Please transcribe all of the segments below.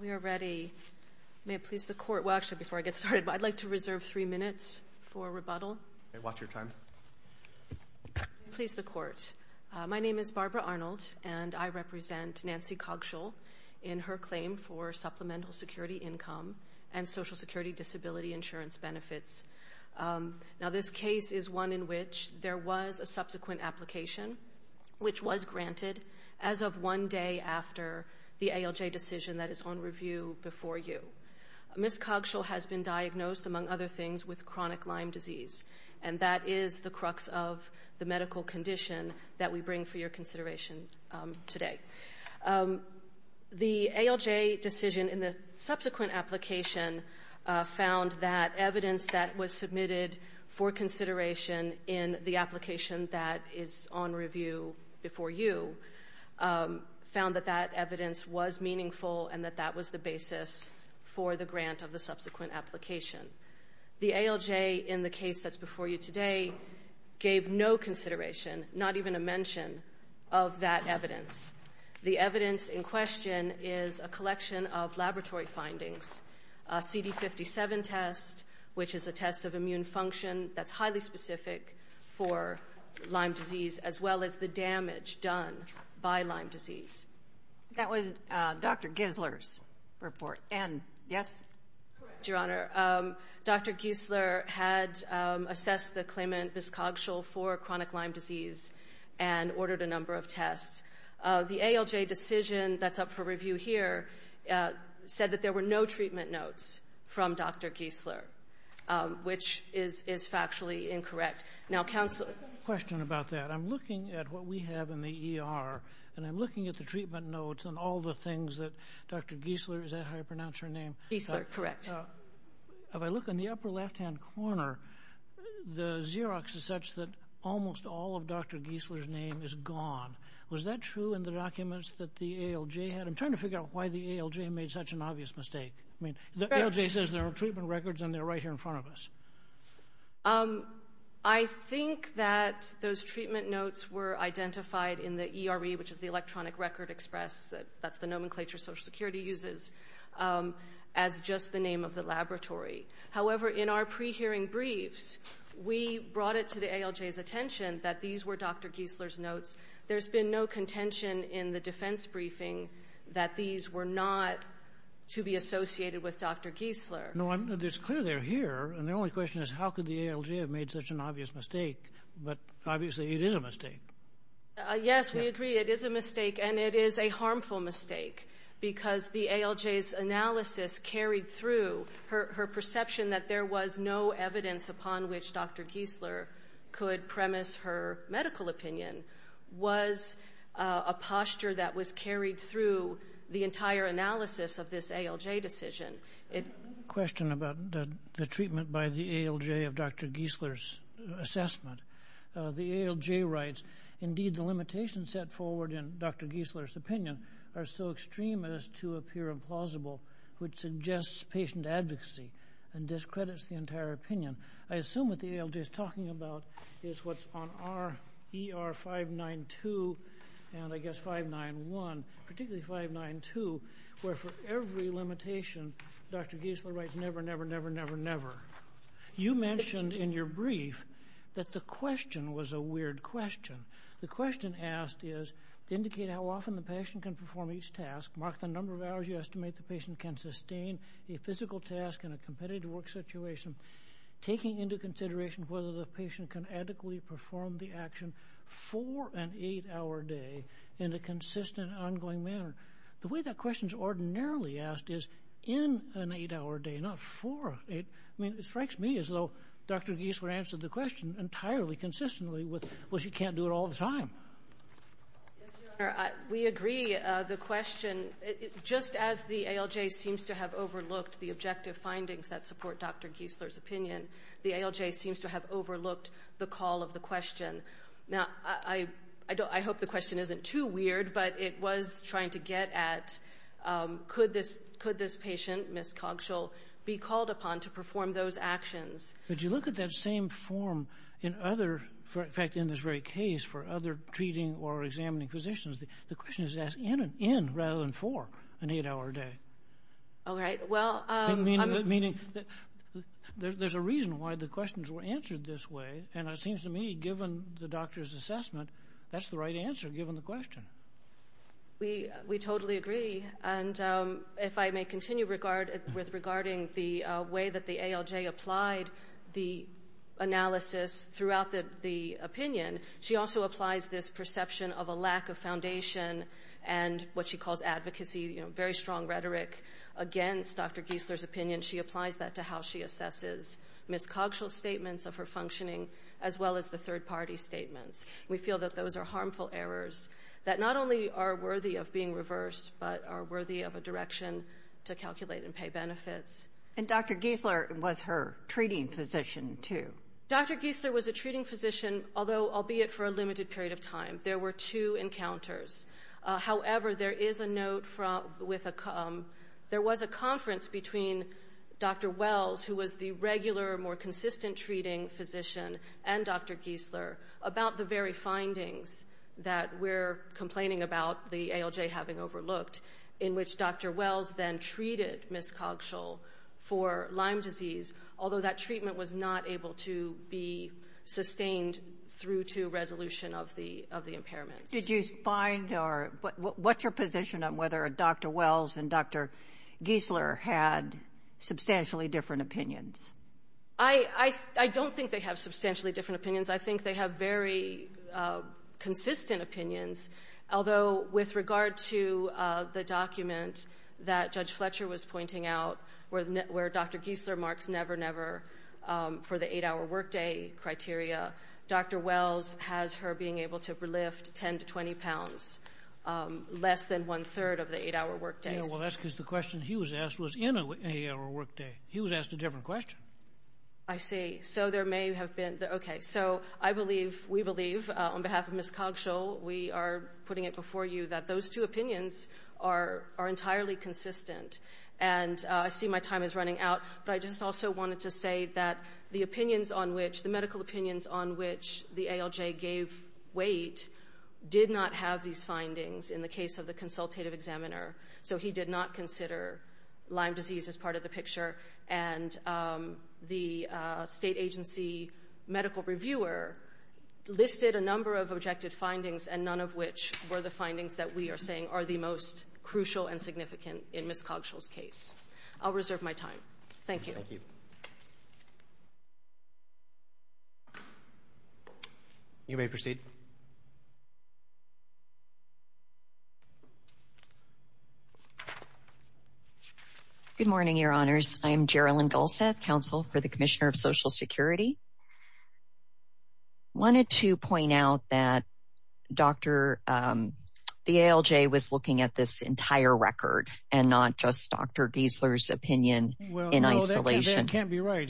We are ready. May it please the Court. Well, actually, before I get started, I'd like to reserve three minutes for rebuttal. May I watch your time? May it please the Court. My name is Barbara Arnold, and I represent Nancy Coggeshall in her claim for Supplemental Security Income and Social Security Disability Insurance Benefits. Now, this case is one in which there was a subsequent application, which was granted as of one day after the ALJ decision that is on review before you. Ms. Coggeshall has been diagnosed, among other things, with chronic Lyme disease, and that is the crux of the medical condition that we bring for your consideration today. The ALJ decision in the subsequent application found that evidence that was submitted for consideration in the application that is on review before you found that that evidence was meaningful and that that was the basis for the grant of the subsequent application. The ALJ in the case that's before you today gave no consideration, not even a mention, of that evidence. The evidence in question is a collection of laboratory findings, a CD57 test, which is a test of immune function that's highly specific for Lyme disease, as well as the damage done by Lyme disease. That was Dr. Gisler's report. Ann, yes? Correct, Your Honor. Dr. Gisler had assessed the claimant, Ms. Coggeshall, for chronic Lyme disease and ordered a number of tests. The ALJ decision that's up for review here said that there were no treatment notes from Dr. Gisler, which is factually incorrect. Now, counsel— I have a question about that. I'm looking at what we have in the ER, and I'm looking at the treatment notes and all the things that Dr. Gisler—is that how you pronounce her name? Gisler, correct. If I look in the upper left-hand corner, the Xerox is such that almost all of Dr. Gisler's name is gone. Was that true in the documents that the ALJ had? I'm trying to figure out why the ALJ made such an obvious mistake. I mean, the ALJ says there are treatment records, and they're right here in front of us. I think that those treatment notes were identified in the ERE, which is the Electronic Record Express. That's the nomenclature Social Security uses as just the name of the laboratory. However, in our pre-hearing briefs, we brought it to the ALJ's attention that these were Dr. Gisler's notes. There's been no contention in the defense briefing that these were not to be associated with Dr. Gisler. No, it's clear they're here, and the only question is how could the ALJ have made such an obvious mistake? But, obviously, it is a mistake. Yes, we agree it is a mistake, and it is a harmful mistake because the ALJ's analysis carried through. Her perception that there was no evidence upon which Dr. Gisler could premise her medical opinion was a posture that was carried through the entire analysis of this ALJ decision. I have a question about the treatment by the ALJ of Dr. Gisler's assessment. The ALJ writes, indeed, the limitations set forward in Dr. Gisler's opinion are so extreme as to appear implausible, which suggests patient advocacy and discredits the entire opinion. I assume what the ALJ is talking about is what's on E.R. 592 and, I guess, 591, particularly 592, where for every limitation, Dr. Gisler writes, never, never, never, never, never. You mentioned in your brief that the question was a weird question. The question asked is to indicate how often the patient can perform each task, mark the number of hours you estimate the patient can sustain a physical task in a competitive work situation, taking into consideration whether the patient can adequately perform the action for an eight-hour day in a consistent, ongoing manner. The way that question is ordinarily asked is in an eight-hour day, not for. I mean, it strikes me as though Dr. Gisler answered the question entirely consistently with, well, she can't do it all the time. Yes, Your Honor, we agree. The question, just as the ALJ seems to have overlooked the objective findings that support Dr. Gisler's opinion, the ALJ seems to have overlooked the call of the question. Now, I hope the question isn't too weird, but it was trying to get at, could this patient, Ms. Cogschell, be called upon to perform those actions? But you look at that same form in other, in fact, in this very case, for other treating or examining physicians, the question is asked in rather than for an eight-hour day. All right, well, I'm... Meaning, there's a reason why the questions were answered this way, and it seems to me, given the doctor's assessment, that's the right answer, given the question. We totally agree. And if I may continue with regarding the way that the ALJ applied the analysis throughout the opinion, she also applies this perception of a lack of foundation and what she calls advocacy, very strong rhetoric against Dr. Gisler's opinion. And she applies that to how she assesses Ms. Cogschell's statements of her functioning, as well as the third-party statements. We feel that those are harmful errors that not only are worthy of being reversed, but are worthy of a direction to calculate and pay benefits. And Dr. Gisler was her treating physician, too. Dr. Gisler was a treating physician, although albeit for a limited period of time. There were two encounters. However, there is a note with a... There was a conference between Dr. Wells, who was the regular, more consistent treating physician, and Dr. Gisler about the very findings that we're complaining about the ALJ having overlooked, in which Dr. Wells then treated Ms. Cogschell for Lyme disease, although that treatment was not able to be sustained through to resolution of the impairments. Did you find, or what's your position on whether Dr. Wells and Dr. Gisler had substantially different opinions? I don't think they have substantially different opinions. I think they have very consistent opinions, although with regard to the document that Judge Fletcher was pointing out, where Dr. Gisler marks never, never for the 8-hour workday criteria, Dr. Wells has her being able to lift 10 to 20 pounds less than one-third of the 8-hour workdays. Well, that's because the question he was asked was in an 8-hour workday. He was asked a different question. I see. So there may have been... Okay, so I believe, we believe, on behalf of Ms. Cogschell, we are putting it before you that those two opinions are entirely consistent, and I see my time is running out, but I just also wanted to say that the opinions on which, the medical opinions on which the ALJ gave weight did not have these findings in the case of the consultative examiner, so he did not consider Lyme disease as part of the picture, and the state agency medical reviewer listed a number of objective findings and none of which were the findings that we are saying are the most crucial and significant in Ms. Cogschell's case. I'll reserve my time. Thank you. Thank you. You may proceed. Good morning, Your Honors. I'm Gerilyn Gulseth, Counsel for the Commissioner of Social Security. I wanted to point out that Dr., the ALJ was looking at this entire record, and not just Dr. Giesler's opinion in isolation. That can't be right.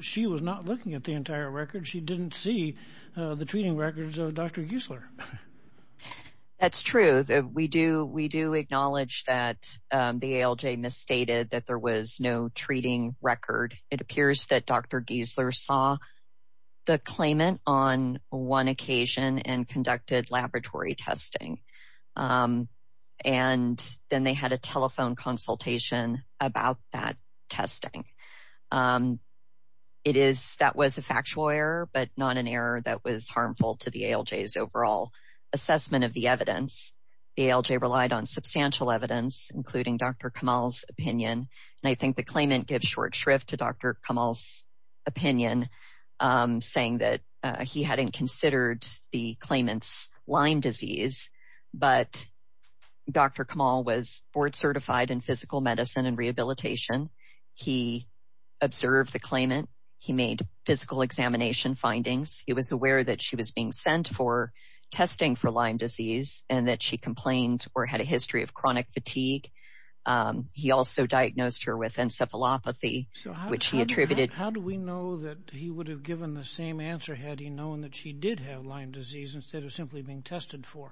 She was not looking at the entire record. She didn't see the treating records of Dr. Giesler. That's true. We do acknowledge that the ALJ misstated that there was no treating record. It appears that Dr. Giesler saw the claimant on one occasion and conducted laboratory testing, and then they had a telephone consultation about that testing. That was a factual error, but not an error that was harmful to the ALJ's overall assessment of the evidence. The ALJ relied on substantial evidence, including Dr. Kamal's opinion, and I think the claimant gives short shrift to Dr. Kamal's opinion, saying that he hadn't considered the claimant's Lyme disease, but Dr. Kamal was board certified in physical medicine and rehabilitation. He observed the claimant. He made physical examination findings. He was aware that she was being sent for testing for Lyme disease, and that she complained or had a history of chronic fatigue. He also diagnosed her with encephalopathy, which he attributed... How do we know that he would have given the same answer had he known that she did have Lyme disease instead of simply being tested for?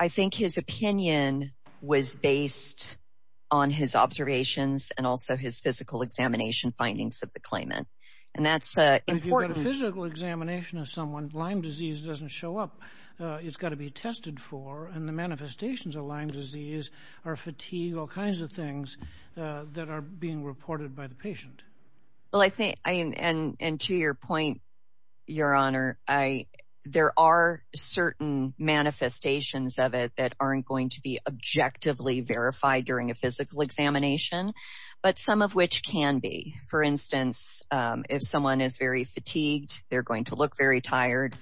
I think his opinion was based on his observations and also his physical examination findings of the claimant, and that's important. If you've got a physical examination of someone, Lyme disease doesn't show up. It's got to be tested for, and the manifestations of Lyme disease are fatigue, all kinds of things that are being reported by the patient. To your point, Your Honor, there are certain manifestations of it that aren't going to be objectively verified during a physical examination, but some of which can be. For instance, if someone is very fatigued, they're going to look very tired.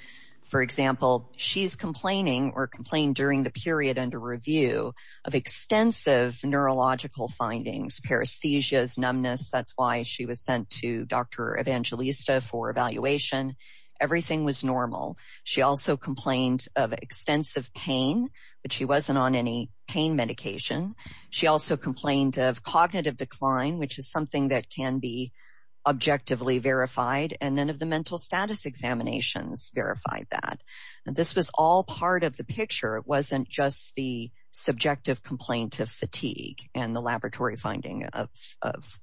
For example, she's complaining or complained during the period under review of extensive neurological findings, paresthesias, numbness. That's why she was sent to Dr. Evangelista for evaluation. Everything was normal. She also complained of extensive pain, but she wasn't on any pain medication. She also complained of cognitive decline, which is something that can be objectively verified, and none of the mental status examinations verified that. This was all part of the picture. It wasn't just the subjective complaint of fatigue and the laboratory finding of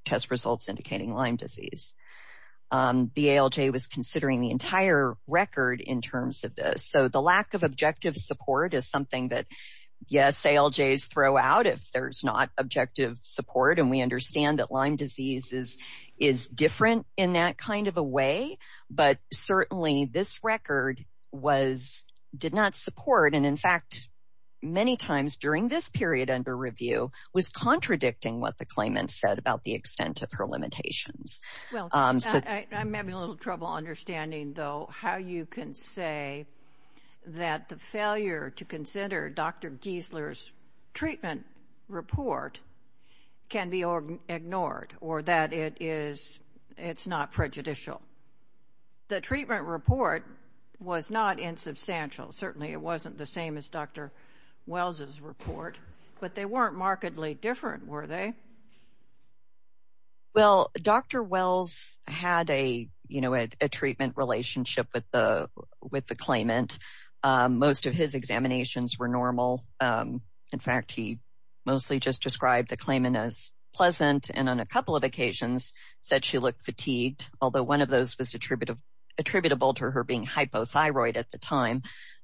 test results indicating Lyme disease. The ALJ was considering the entire record in terms of this. The lack of objective support is something that, yes, ALJs throw out if there's not objective support, and we understand that Lyme disease is different in that kind of a way, but certainly this record did not support, and in fact, many times during this period under review, was contradicting what the claimant said about the extent of her limitations. Well, I'm having a little trouble understanding, though, how you can say that the failure to consider Dr. Giesler's treatment report can be ignored or that it's not prejudicial. The treatment report was not insubstantial. Certainly it wasn't the same as Dr. Wells' report, but they weren't markedly different, were they? Well, Dr. Wells had a treatment relationship with the claimant. Most of his examinations were normal. In fact, he mostly just described the claimant as pleasant and on a couple of occasions said she looked fatigued, although one of those was attributable to her being hypothyroid at the time.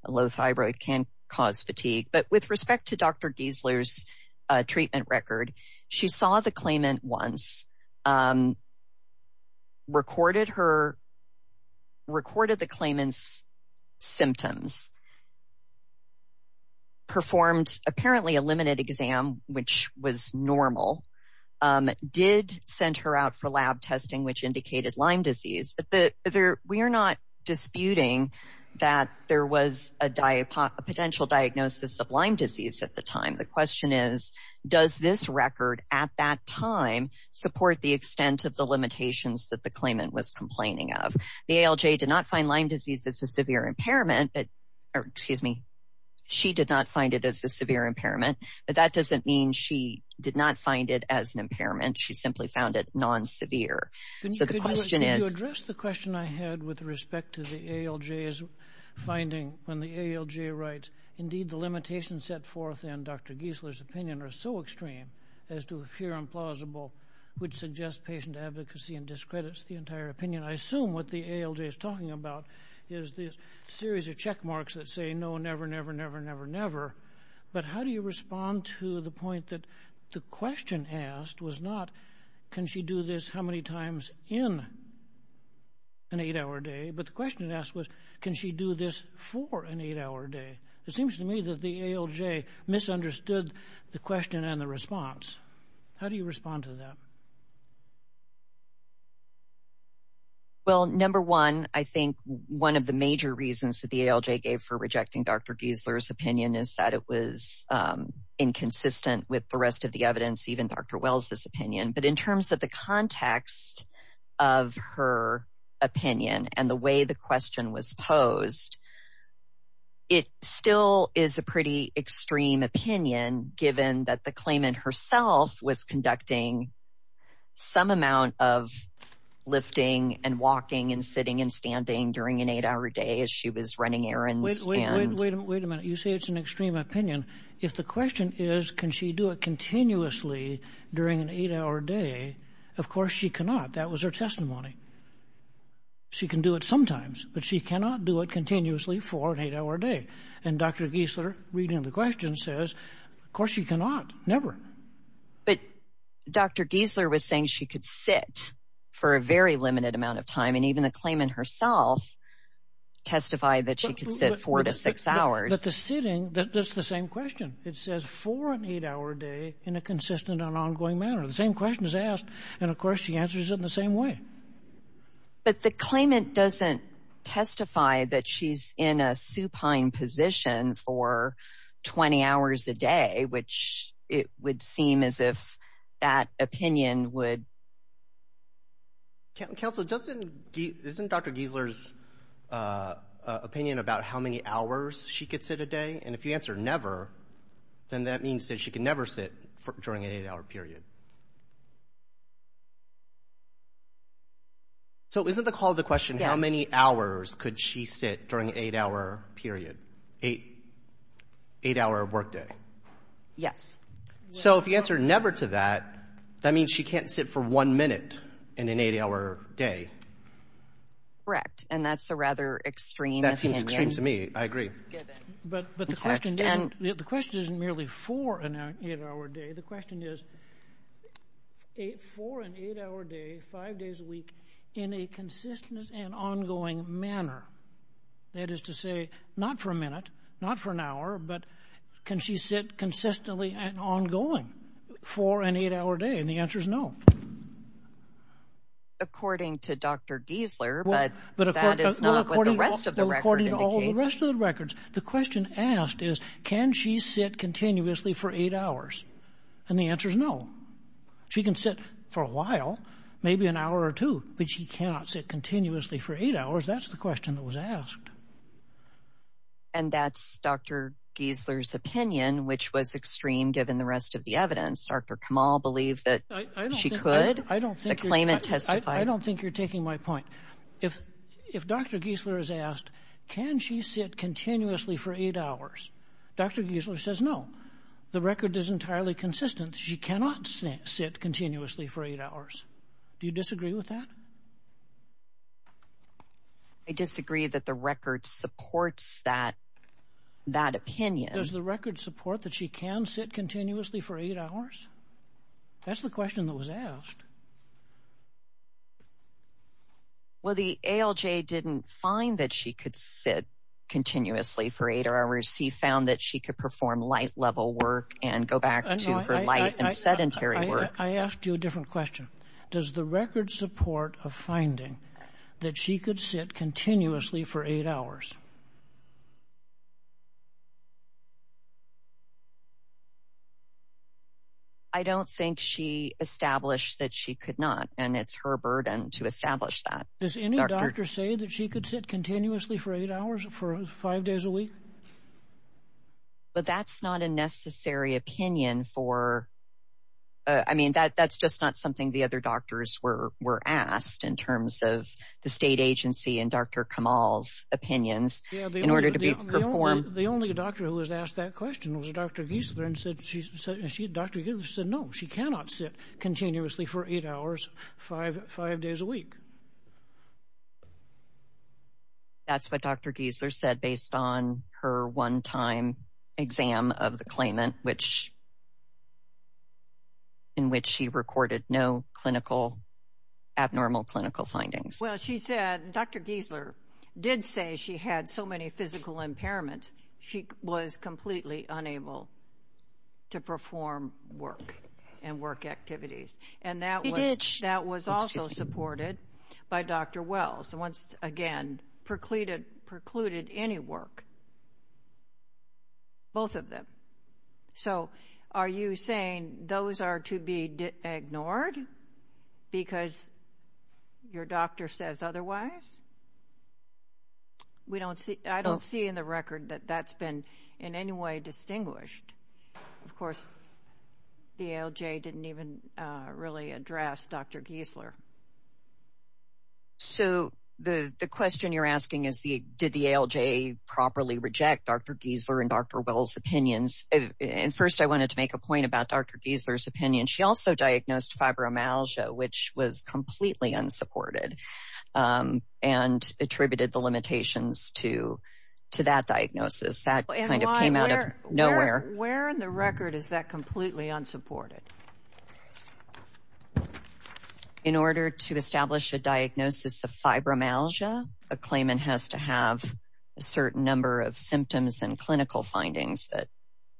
Low thyroid can cause fatigue, but with respect to Dr. Giesler's treatment record, she saw the claimant once, recorded the claimant's symptoms, performed apparently a limited exam, which was normal, did send her out for lab testing, which indicated Lyme disease. We are not disputing that there was a potential diagnosis of Lyme disease at the time. The question is, does this record at that time support the extent of the limitations that the claimant was complaining of? The ALJ did not find Lyme disease as a severe impairment, or excuse me, she did not find it as a severe impairment, but that doesn't mean she did not find it as an impairment. She simply found it non-severe. So the question is... Can you address the question I had with respect to the ALJ's finding when the ALJ writes, indeed the limitations set forth in Dr. Giesler's opinion are so extreme as to appear implausible, which suggests patient advocacy and discredits the entire opinion? I assume what the ALJ is talking about is this series of check marks that say, no, never, never, never, never, never. But how do you respond to the point that the question asked was not, can she do this how many times in an eight-hour day? But the question asked was, can she do this for an eight-hour day? It seems to me that the ALJ misunderstood the question and the response. How do you respond to that? Well, number one, I think one of the major reasons that the ALJ gave for rejecting Dr. Giesler's opinion is that it was inconsistent with the rest of the evidence, even Dr. Wells's opinion. But in terms of the context of her opinion and the way the question was posed, it still is a pretty extreme opinion given that the claimant herself was conducting some amount of lifting and walking and sitting and standing during an eight-hour day as she was running errands. Wait a minute. You say it's an extreme opinion. If the question is, can she do it continuously during an eight-hour day, of course she cannot. That was her testimony. She can do it sometimes, but she cannot do it continuously for an eight-hour day. And Dr. Giesler, reading the question, says, of course she cannot. Never. But Dr. Giesler was saying she could sit for a very limited amount of time, and even the claimant herself testified that she could sit four to six hours. But the sitting, that's the same question. It says four an eight-hour day in a consistent and ongoing manner. The same question is asked, and of course she answers it in the same way. But the claimant doesn't testify that she's in a supine position for 20 hours a day, which it would seem as if that opinion would... Counsel, isn't Dr. Giesler's opinion about how many hours she could sit a day? And if you answer never, then that means that she could never sit during an eight-hour period. So isn't the call to the question how many hours could she sit during an eight-hour period, eight-hour workday? Yes. So if you answer never to that, that means she can't sit for one minute in an eight-hour day. Correct, and that's a rather extreme opinion. That seems extreme to me. I agree. But the question isn't merely four an eight-hour day. The question is four an eight-hour day, five days a week, in a consistent and ongoing manner. That is to say, not for a minute, not for an hour, but can she sit consistently and ongoing for an eight-hour day? And the answer is no. According to Dr. Giesler, but that is not what the rest of the record indicates. Well, according to all the rest of the records, the question asked is can she sit continuously for eight hours? And the answer is no. She can sit for a while, maybe an hour or two, but she cannot sit continuously for eight hours. That's the question that was asked. And that's Dr. Giesler's opinion, which was extreme given the rest of the evidence. Dr. Kamal believed that she could. I don't think you're taking my point. If Dr. Giesler is asked, can she sit continuously for eight hours, Dr. Giesler says no. She cannot sit continuously for eight hours. Do you disagree with that? I disagree that the record supports that opinion. Does the record support that she can sit continuously for eight hours? That's the question that was asked. Well, the ALJ didn't find that she could sit continuously for eight hours. He found that she could perform light-level work and go back to her light and sedentary work. I asked you a different question. Does the record support a finding that she could sit continuously for eight hours? I don't think she established that she could not, and it's her burden to establish that. Does any doctor say that she could sit continuously for eight hours for five days a week? But that's not a necessary opinion for... I mean, that's just not something the other doctors were asked in terms of the state agency and Dr. Kamal's opinions in order to perform... The only doctor who was asked that question was Dr. Giesler, and Dr. Giesler said no, she cannot sit continuously for eight hours five days a week. That's what Dr. Giesler said based on her one-time exam of the claimant, in which she recorded no clinical, abnormal clinical findings. Well, she said Dr. Giesler did say she had so many physical impairments she was completely unable to perform work and work activities. And that was also supported by Dr. Wells, who once again precluded any work, both of them. So are you saying those are to be ignored because your doctor says otherwise? I don't see in the record that that's been in any way distinguished. Of course, the ALJ didn't even really address Dr. Giesler. So the question you're asking is did the ALJ properly reject Dr. Giesler and Dr. Wells' opinions? And first I wanted to make a point about Dr. Giesler's opinion. She also diagnosed fibromyalgia, which was completely unsupported, and attributed the limitations to that diagnosis. That kind of came out of nowhere. Where in the record is that completely unsupported? In order to establish a diagnosis of fibromyalgia, a claimant has to have a certain number of symptoms and clinical findings that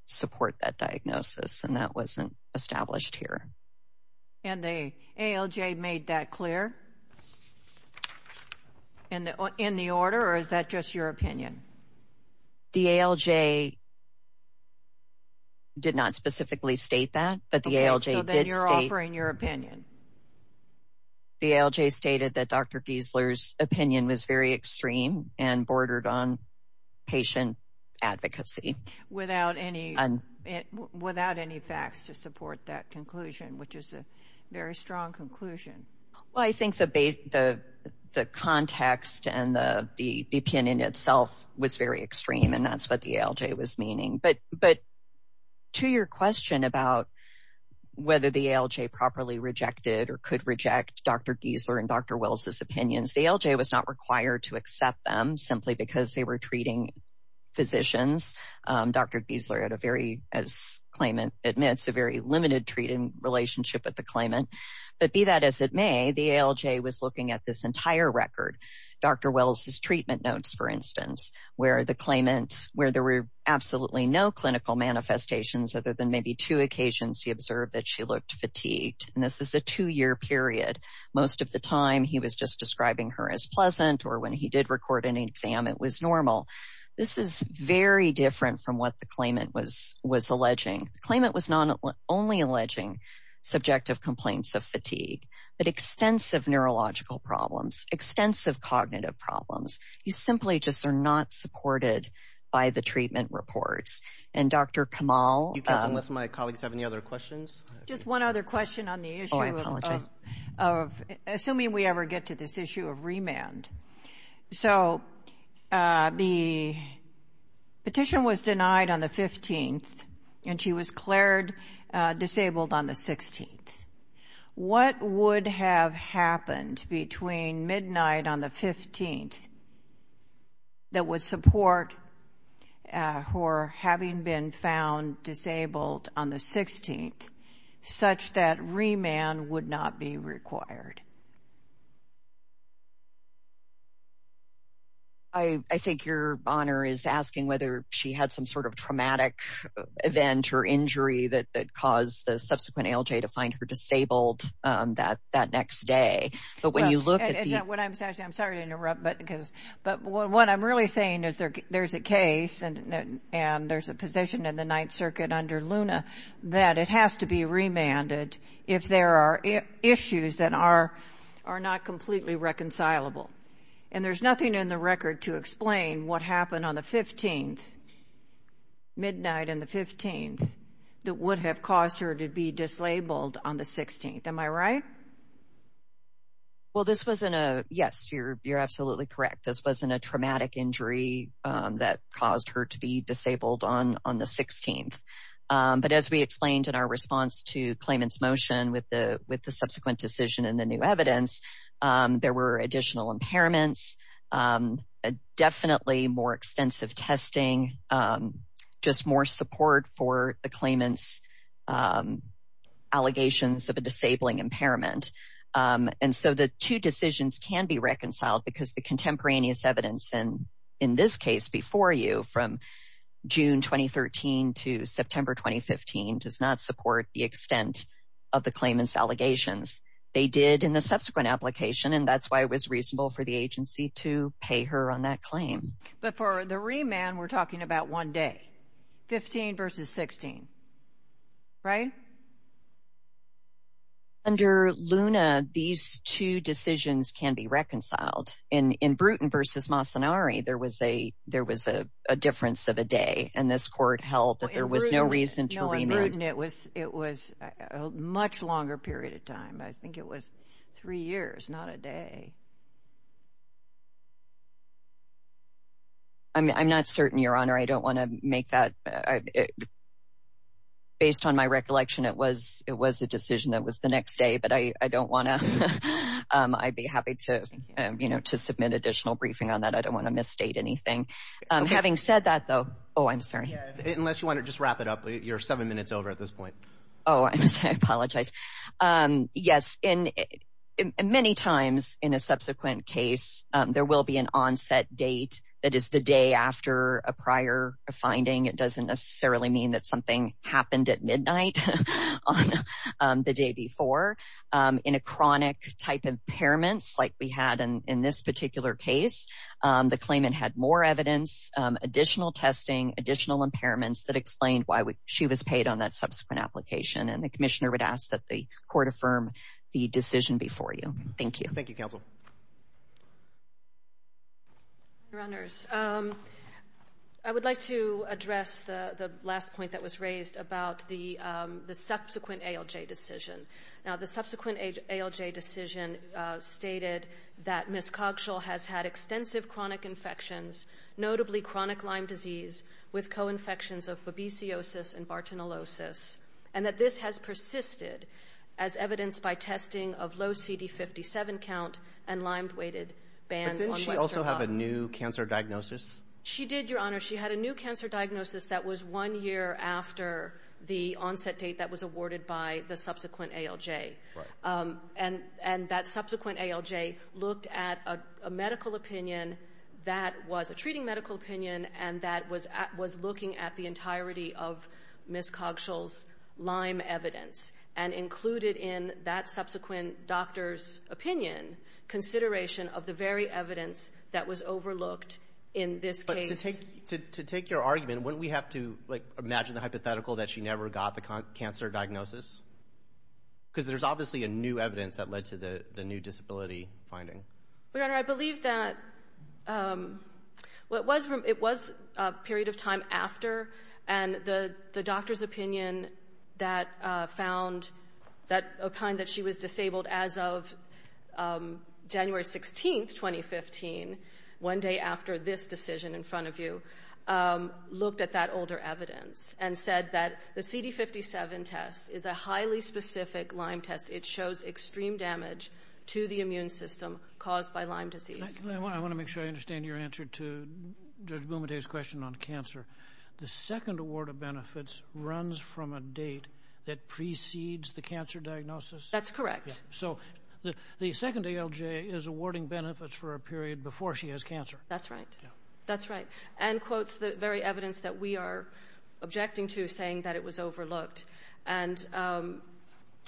support that diagnosis, and that wasn't established here. And the ALJ made that clear in the order, or is that just your opinion? The ALJ did not specifically state that, but the ALJ did state... Okay, so then you're offering your opinion. The ALJ stated that Dr. Giesler's opinion was very extreme and bordered on patient advocacy. Without any facts to support that conclusion, which is a very strong conclusion. Well, I think the context and the opinion itself was very extreme, and that's what the ALJ was meaning. But to your question about whether the ALJ properly rejected or could reject Dr. Giesler and Dr. Wells' opinions, the ALJ was not required to accept them simply because they were treating physicians. Dr. Giesler had a very, as the claimant admits, a very limited treatment relationship with the claimant. But be that as it may, the ALJ was looking at this entire record, Dr. Wells' treatment notes, for instance, where there were absolutely no clinical manifestations other than maybe two occasions he observed that she looked fatigued. And this is a two-year period. Most of the time he was just describing her as pleasant, or when he did record an exam it was normal. This is very different from what the claimant was alleging. The claimant was not only alleging subjective complaints of fatigue, but extensive neurological problems, extensive cognitive problems. You simply just are not supported by the treatment reports. And Dr. Kamal— Unless my colleagues have any other questions. Just one other question on the issue of— Oh, I apologize. Assuming we ever get to this issue of remand. So the petition was denied on the 15th, and she was cleared disabled on the 16th. What would have happened between midnight on the 15th that would support her having been found disabled on the 16th such that remand would not be required? I think your honor is asking whether she had some sort of traumatic event or injury that caused the subsequent ALJ to find her disabled that next day. But when you look at the— I'm sorry to interrupt, but what I'm really saying is there's a case, and there's a position in the Ninth Circuit under Luna that it has to be remanded if there are issues that are not completely reconcilable. And there's nothing in the record to explain what happened on the 15th, midnight on the 15th, that would have caused her to be disabled on the 16th. Am I right? Well, this wasn't a— Yes, you're absolutely correct. This wasn't a traumatic injury that caused her to be disabled on the 16th. But as we explained in our response to claimant's motion with the subsequent decision and the new evidence, there were additional impairments, definitely more extensive testing, just more support for the claimant's allegations of a disabling impairment. And so the two decisions can be reconciled because the contemporaneous evidence, and in this case before you, from June 2013 to September 2015, does not support the extent of the claimant's allegations. They did in the subsequent application, and that's why it was reasonable for the agency to pay her on that claim. But for the remand, we're talking about one day, 15 versus 16, right? Under Luna, these two decisions can be reconciled. In Bruton versus Masanari, there was a difference of a day, and this court held that there was no reason to remand. No, in Bruton it was a much longer period of time. I think it was three years, not a day. I'm not certain, Your Honor. I don't want to make that— based on my recollection, it was a decision that was the next day, but I don't want to— I'd be happy to submit additional briefing on that. I don't want to misstate anything. Having said that, though—oh, I'm sorry. Unless you want to just wrap it up. You're seven minutes over at this point. Oh, I'm sorry. I apologize. Yes, many times in a subsequent case there will be an onset date that is the day after a prior finding. It doesn't necessarily mean that something happened at midnight on the day before. In a chronic type impairment, like we had in this particular case, the claimant had more evidence, additional testing, additional impairments that explained why she was paid on that subsequent application. And the commissioner would ask that the court affirm the decision before you. Thank you. Thank you, Counsel. Your Honors, I would like to address the last point that was raised about the subsequent ALJ decision. Now, the subsequent ALJ decision stated that Ms. Cogshall has had extensive chronic infections, notably chronic Lyme disease, with co-infections of babesiosis and bartonellosis, and that this has persisted as evidenced by testing of low CD57 count and Lyme-weighted bands on— But didn't she also have a new cancer diagnosis? She did, Your Honor. She had a new cancer diagnosis that was one year after the onset date that was awarded by the subsequent ALJ. And that subsequent ALJ looked at a medical opinion that was a treating medical opinion and that was looking at the entirety of Ms. Cogshall's Lyme evidence and included in that subsequent doctor's opinion consideration of the very evidence that was overlooked in this case. To take your argument, wouldn't we have to, like, imagine the hypothetical that she never got the cancer diagnosis? Because there's obviously a new evidence that led to the new disability finding. Your Honor, I believe that it was a period of time after, and the doctor's opinion that found— that opined that she was disabled as of January 16, 2015, one day after this decision in front of you, looked at that older evidence and said that the CD57 test is a highly specific Lyme test. It shows extreme damage to the immune system caused by Lyme disease. I want to make sure I understand your answer to Judge Boumediere's question on cancer. The second award of benefits runs from a date that precedes the cancer diagnosis? That's correct. So the second ALJ is awarding benefits for a period before she has cancer? That's right. That's right. And quotes the very evidence that we are objecting to, saying that it was overlooked. And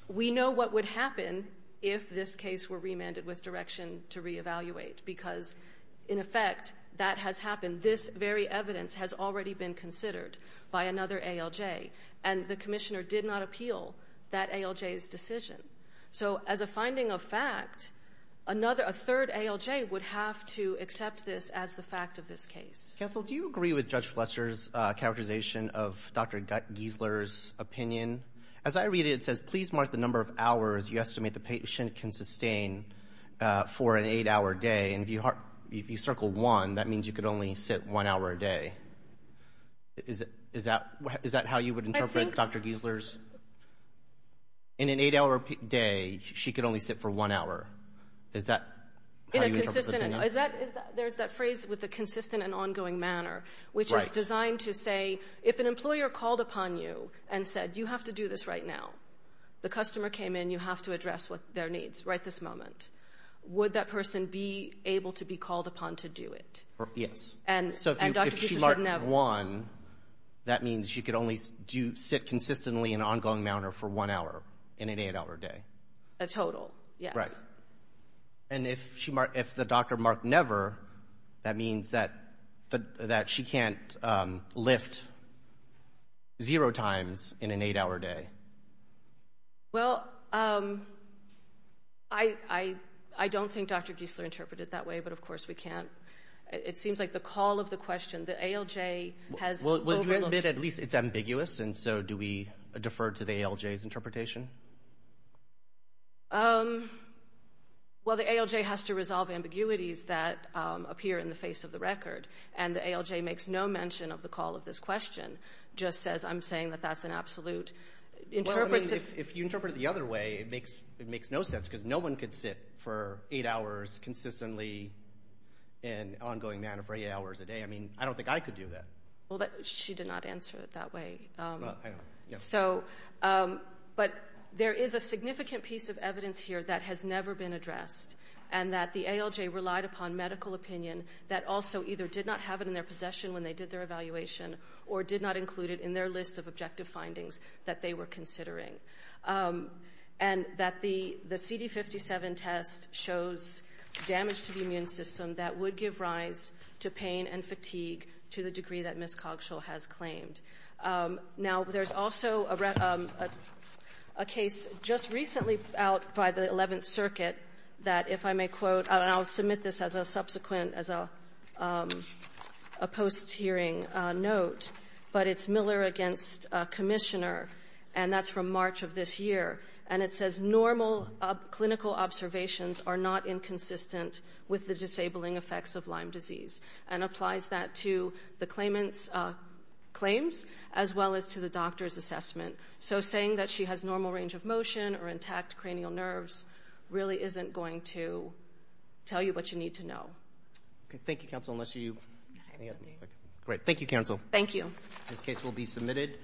we know what would happen if this case were remanded with direction to reevaluate because, in effect, that has happened. This very evidence has already been considered by another ALJ, and the commissioner did not appeal that ALJ's decision. So as a finding of fact, a third ALJ would have to accept this as the fact of this case. Counsel, do you agree with Judge Fletcher's characterization of Dr. Giesler's opinion? As I read it, it says, please mark the number of hours you estimate the patient can sustain for an eight-hour day. And if you circle one, that means you could only sit one hour a day. Is that how you would interpret Dr. Giesler's? In an eight-hour day, she could only sit for one hour. Is that how you interpret that? There's that phrase with the consistent and ongoing manner, which is designed to say, if an employer called upon you and said, you have to do this right now, the customer came in, you have to address their needs right this moment, would that person be able to be called upon to do it? Yes. And Dr. Giesler said never. If you circle one, that means she could only sit consistently in ongoing manner for one hour in an eight-hour day. A total, yes. Right. And if the doctor marked never, that means that she can't lift zero times in an eight-hour day. Well, I don't think Dr. Giesler interpreted it that way, but of course we can. It seems like the call of the question, the ALJ has overlooked it. Well, would you admit at least it's ambiguous, and so do we defer to the ALJ's interpretation? Well, the ALJ has to resolve ambiguities that appear in the face of the record, and the ALJ makes no mention of the call of this question, just says, I'm saying that that's an absolute. If you interpret it the other way, it makes no sense, because no one could sit for eight hours consistently in ongoing manner for eight hours a day. I mean, I don't think I could do that. Well, she did not answer it that way. But there is a significant piece of evidence here that has never been addressed, and that the ALJ relied upon medical opinion that also either did not have it in their possession when they did their evaluation or did not include it in their list of objective findings that they were considering, and that the CD57 test shows damage to the immune system that would give rise to pain and fatigue to the degree that Ms. Cogschill has claimed. Now, there's also a case just recently out by the Eleventh Circuit that, if I may quote, and I'll submit this as a subsequent, as a post-hearing note, but it's Miller against Commissioner, and that's from March of this year, and it says, normal clinical observations are not inconsistent with the disabling effects of Lyme disease, and applies that to the claimant's claims as well as to the doctor's assessment. So saying that she has normal range of motion or intact cranial nerves really isn't going to tell you what you need to know. Thank you, counsel, unless you... Great. Thank you, counsel. Thank you. This case will be submitted.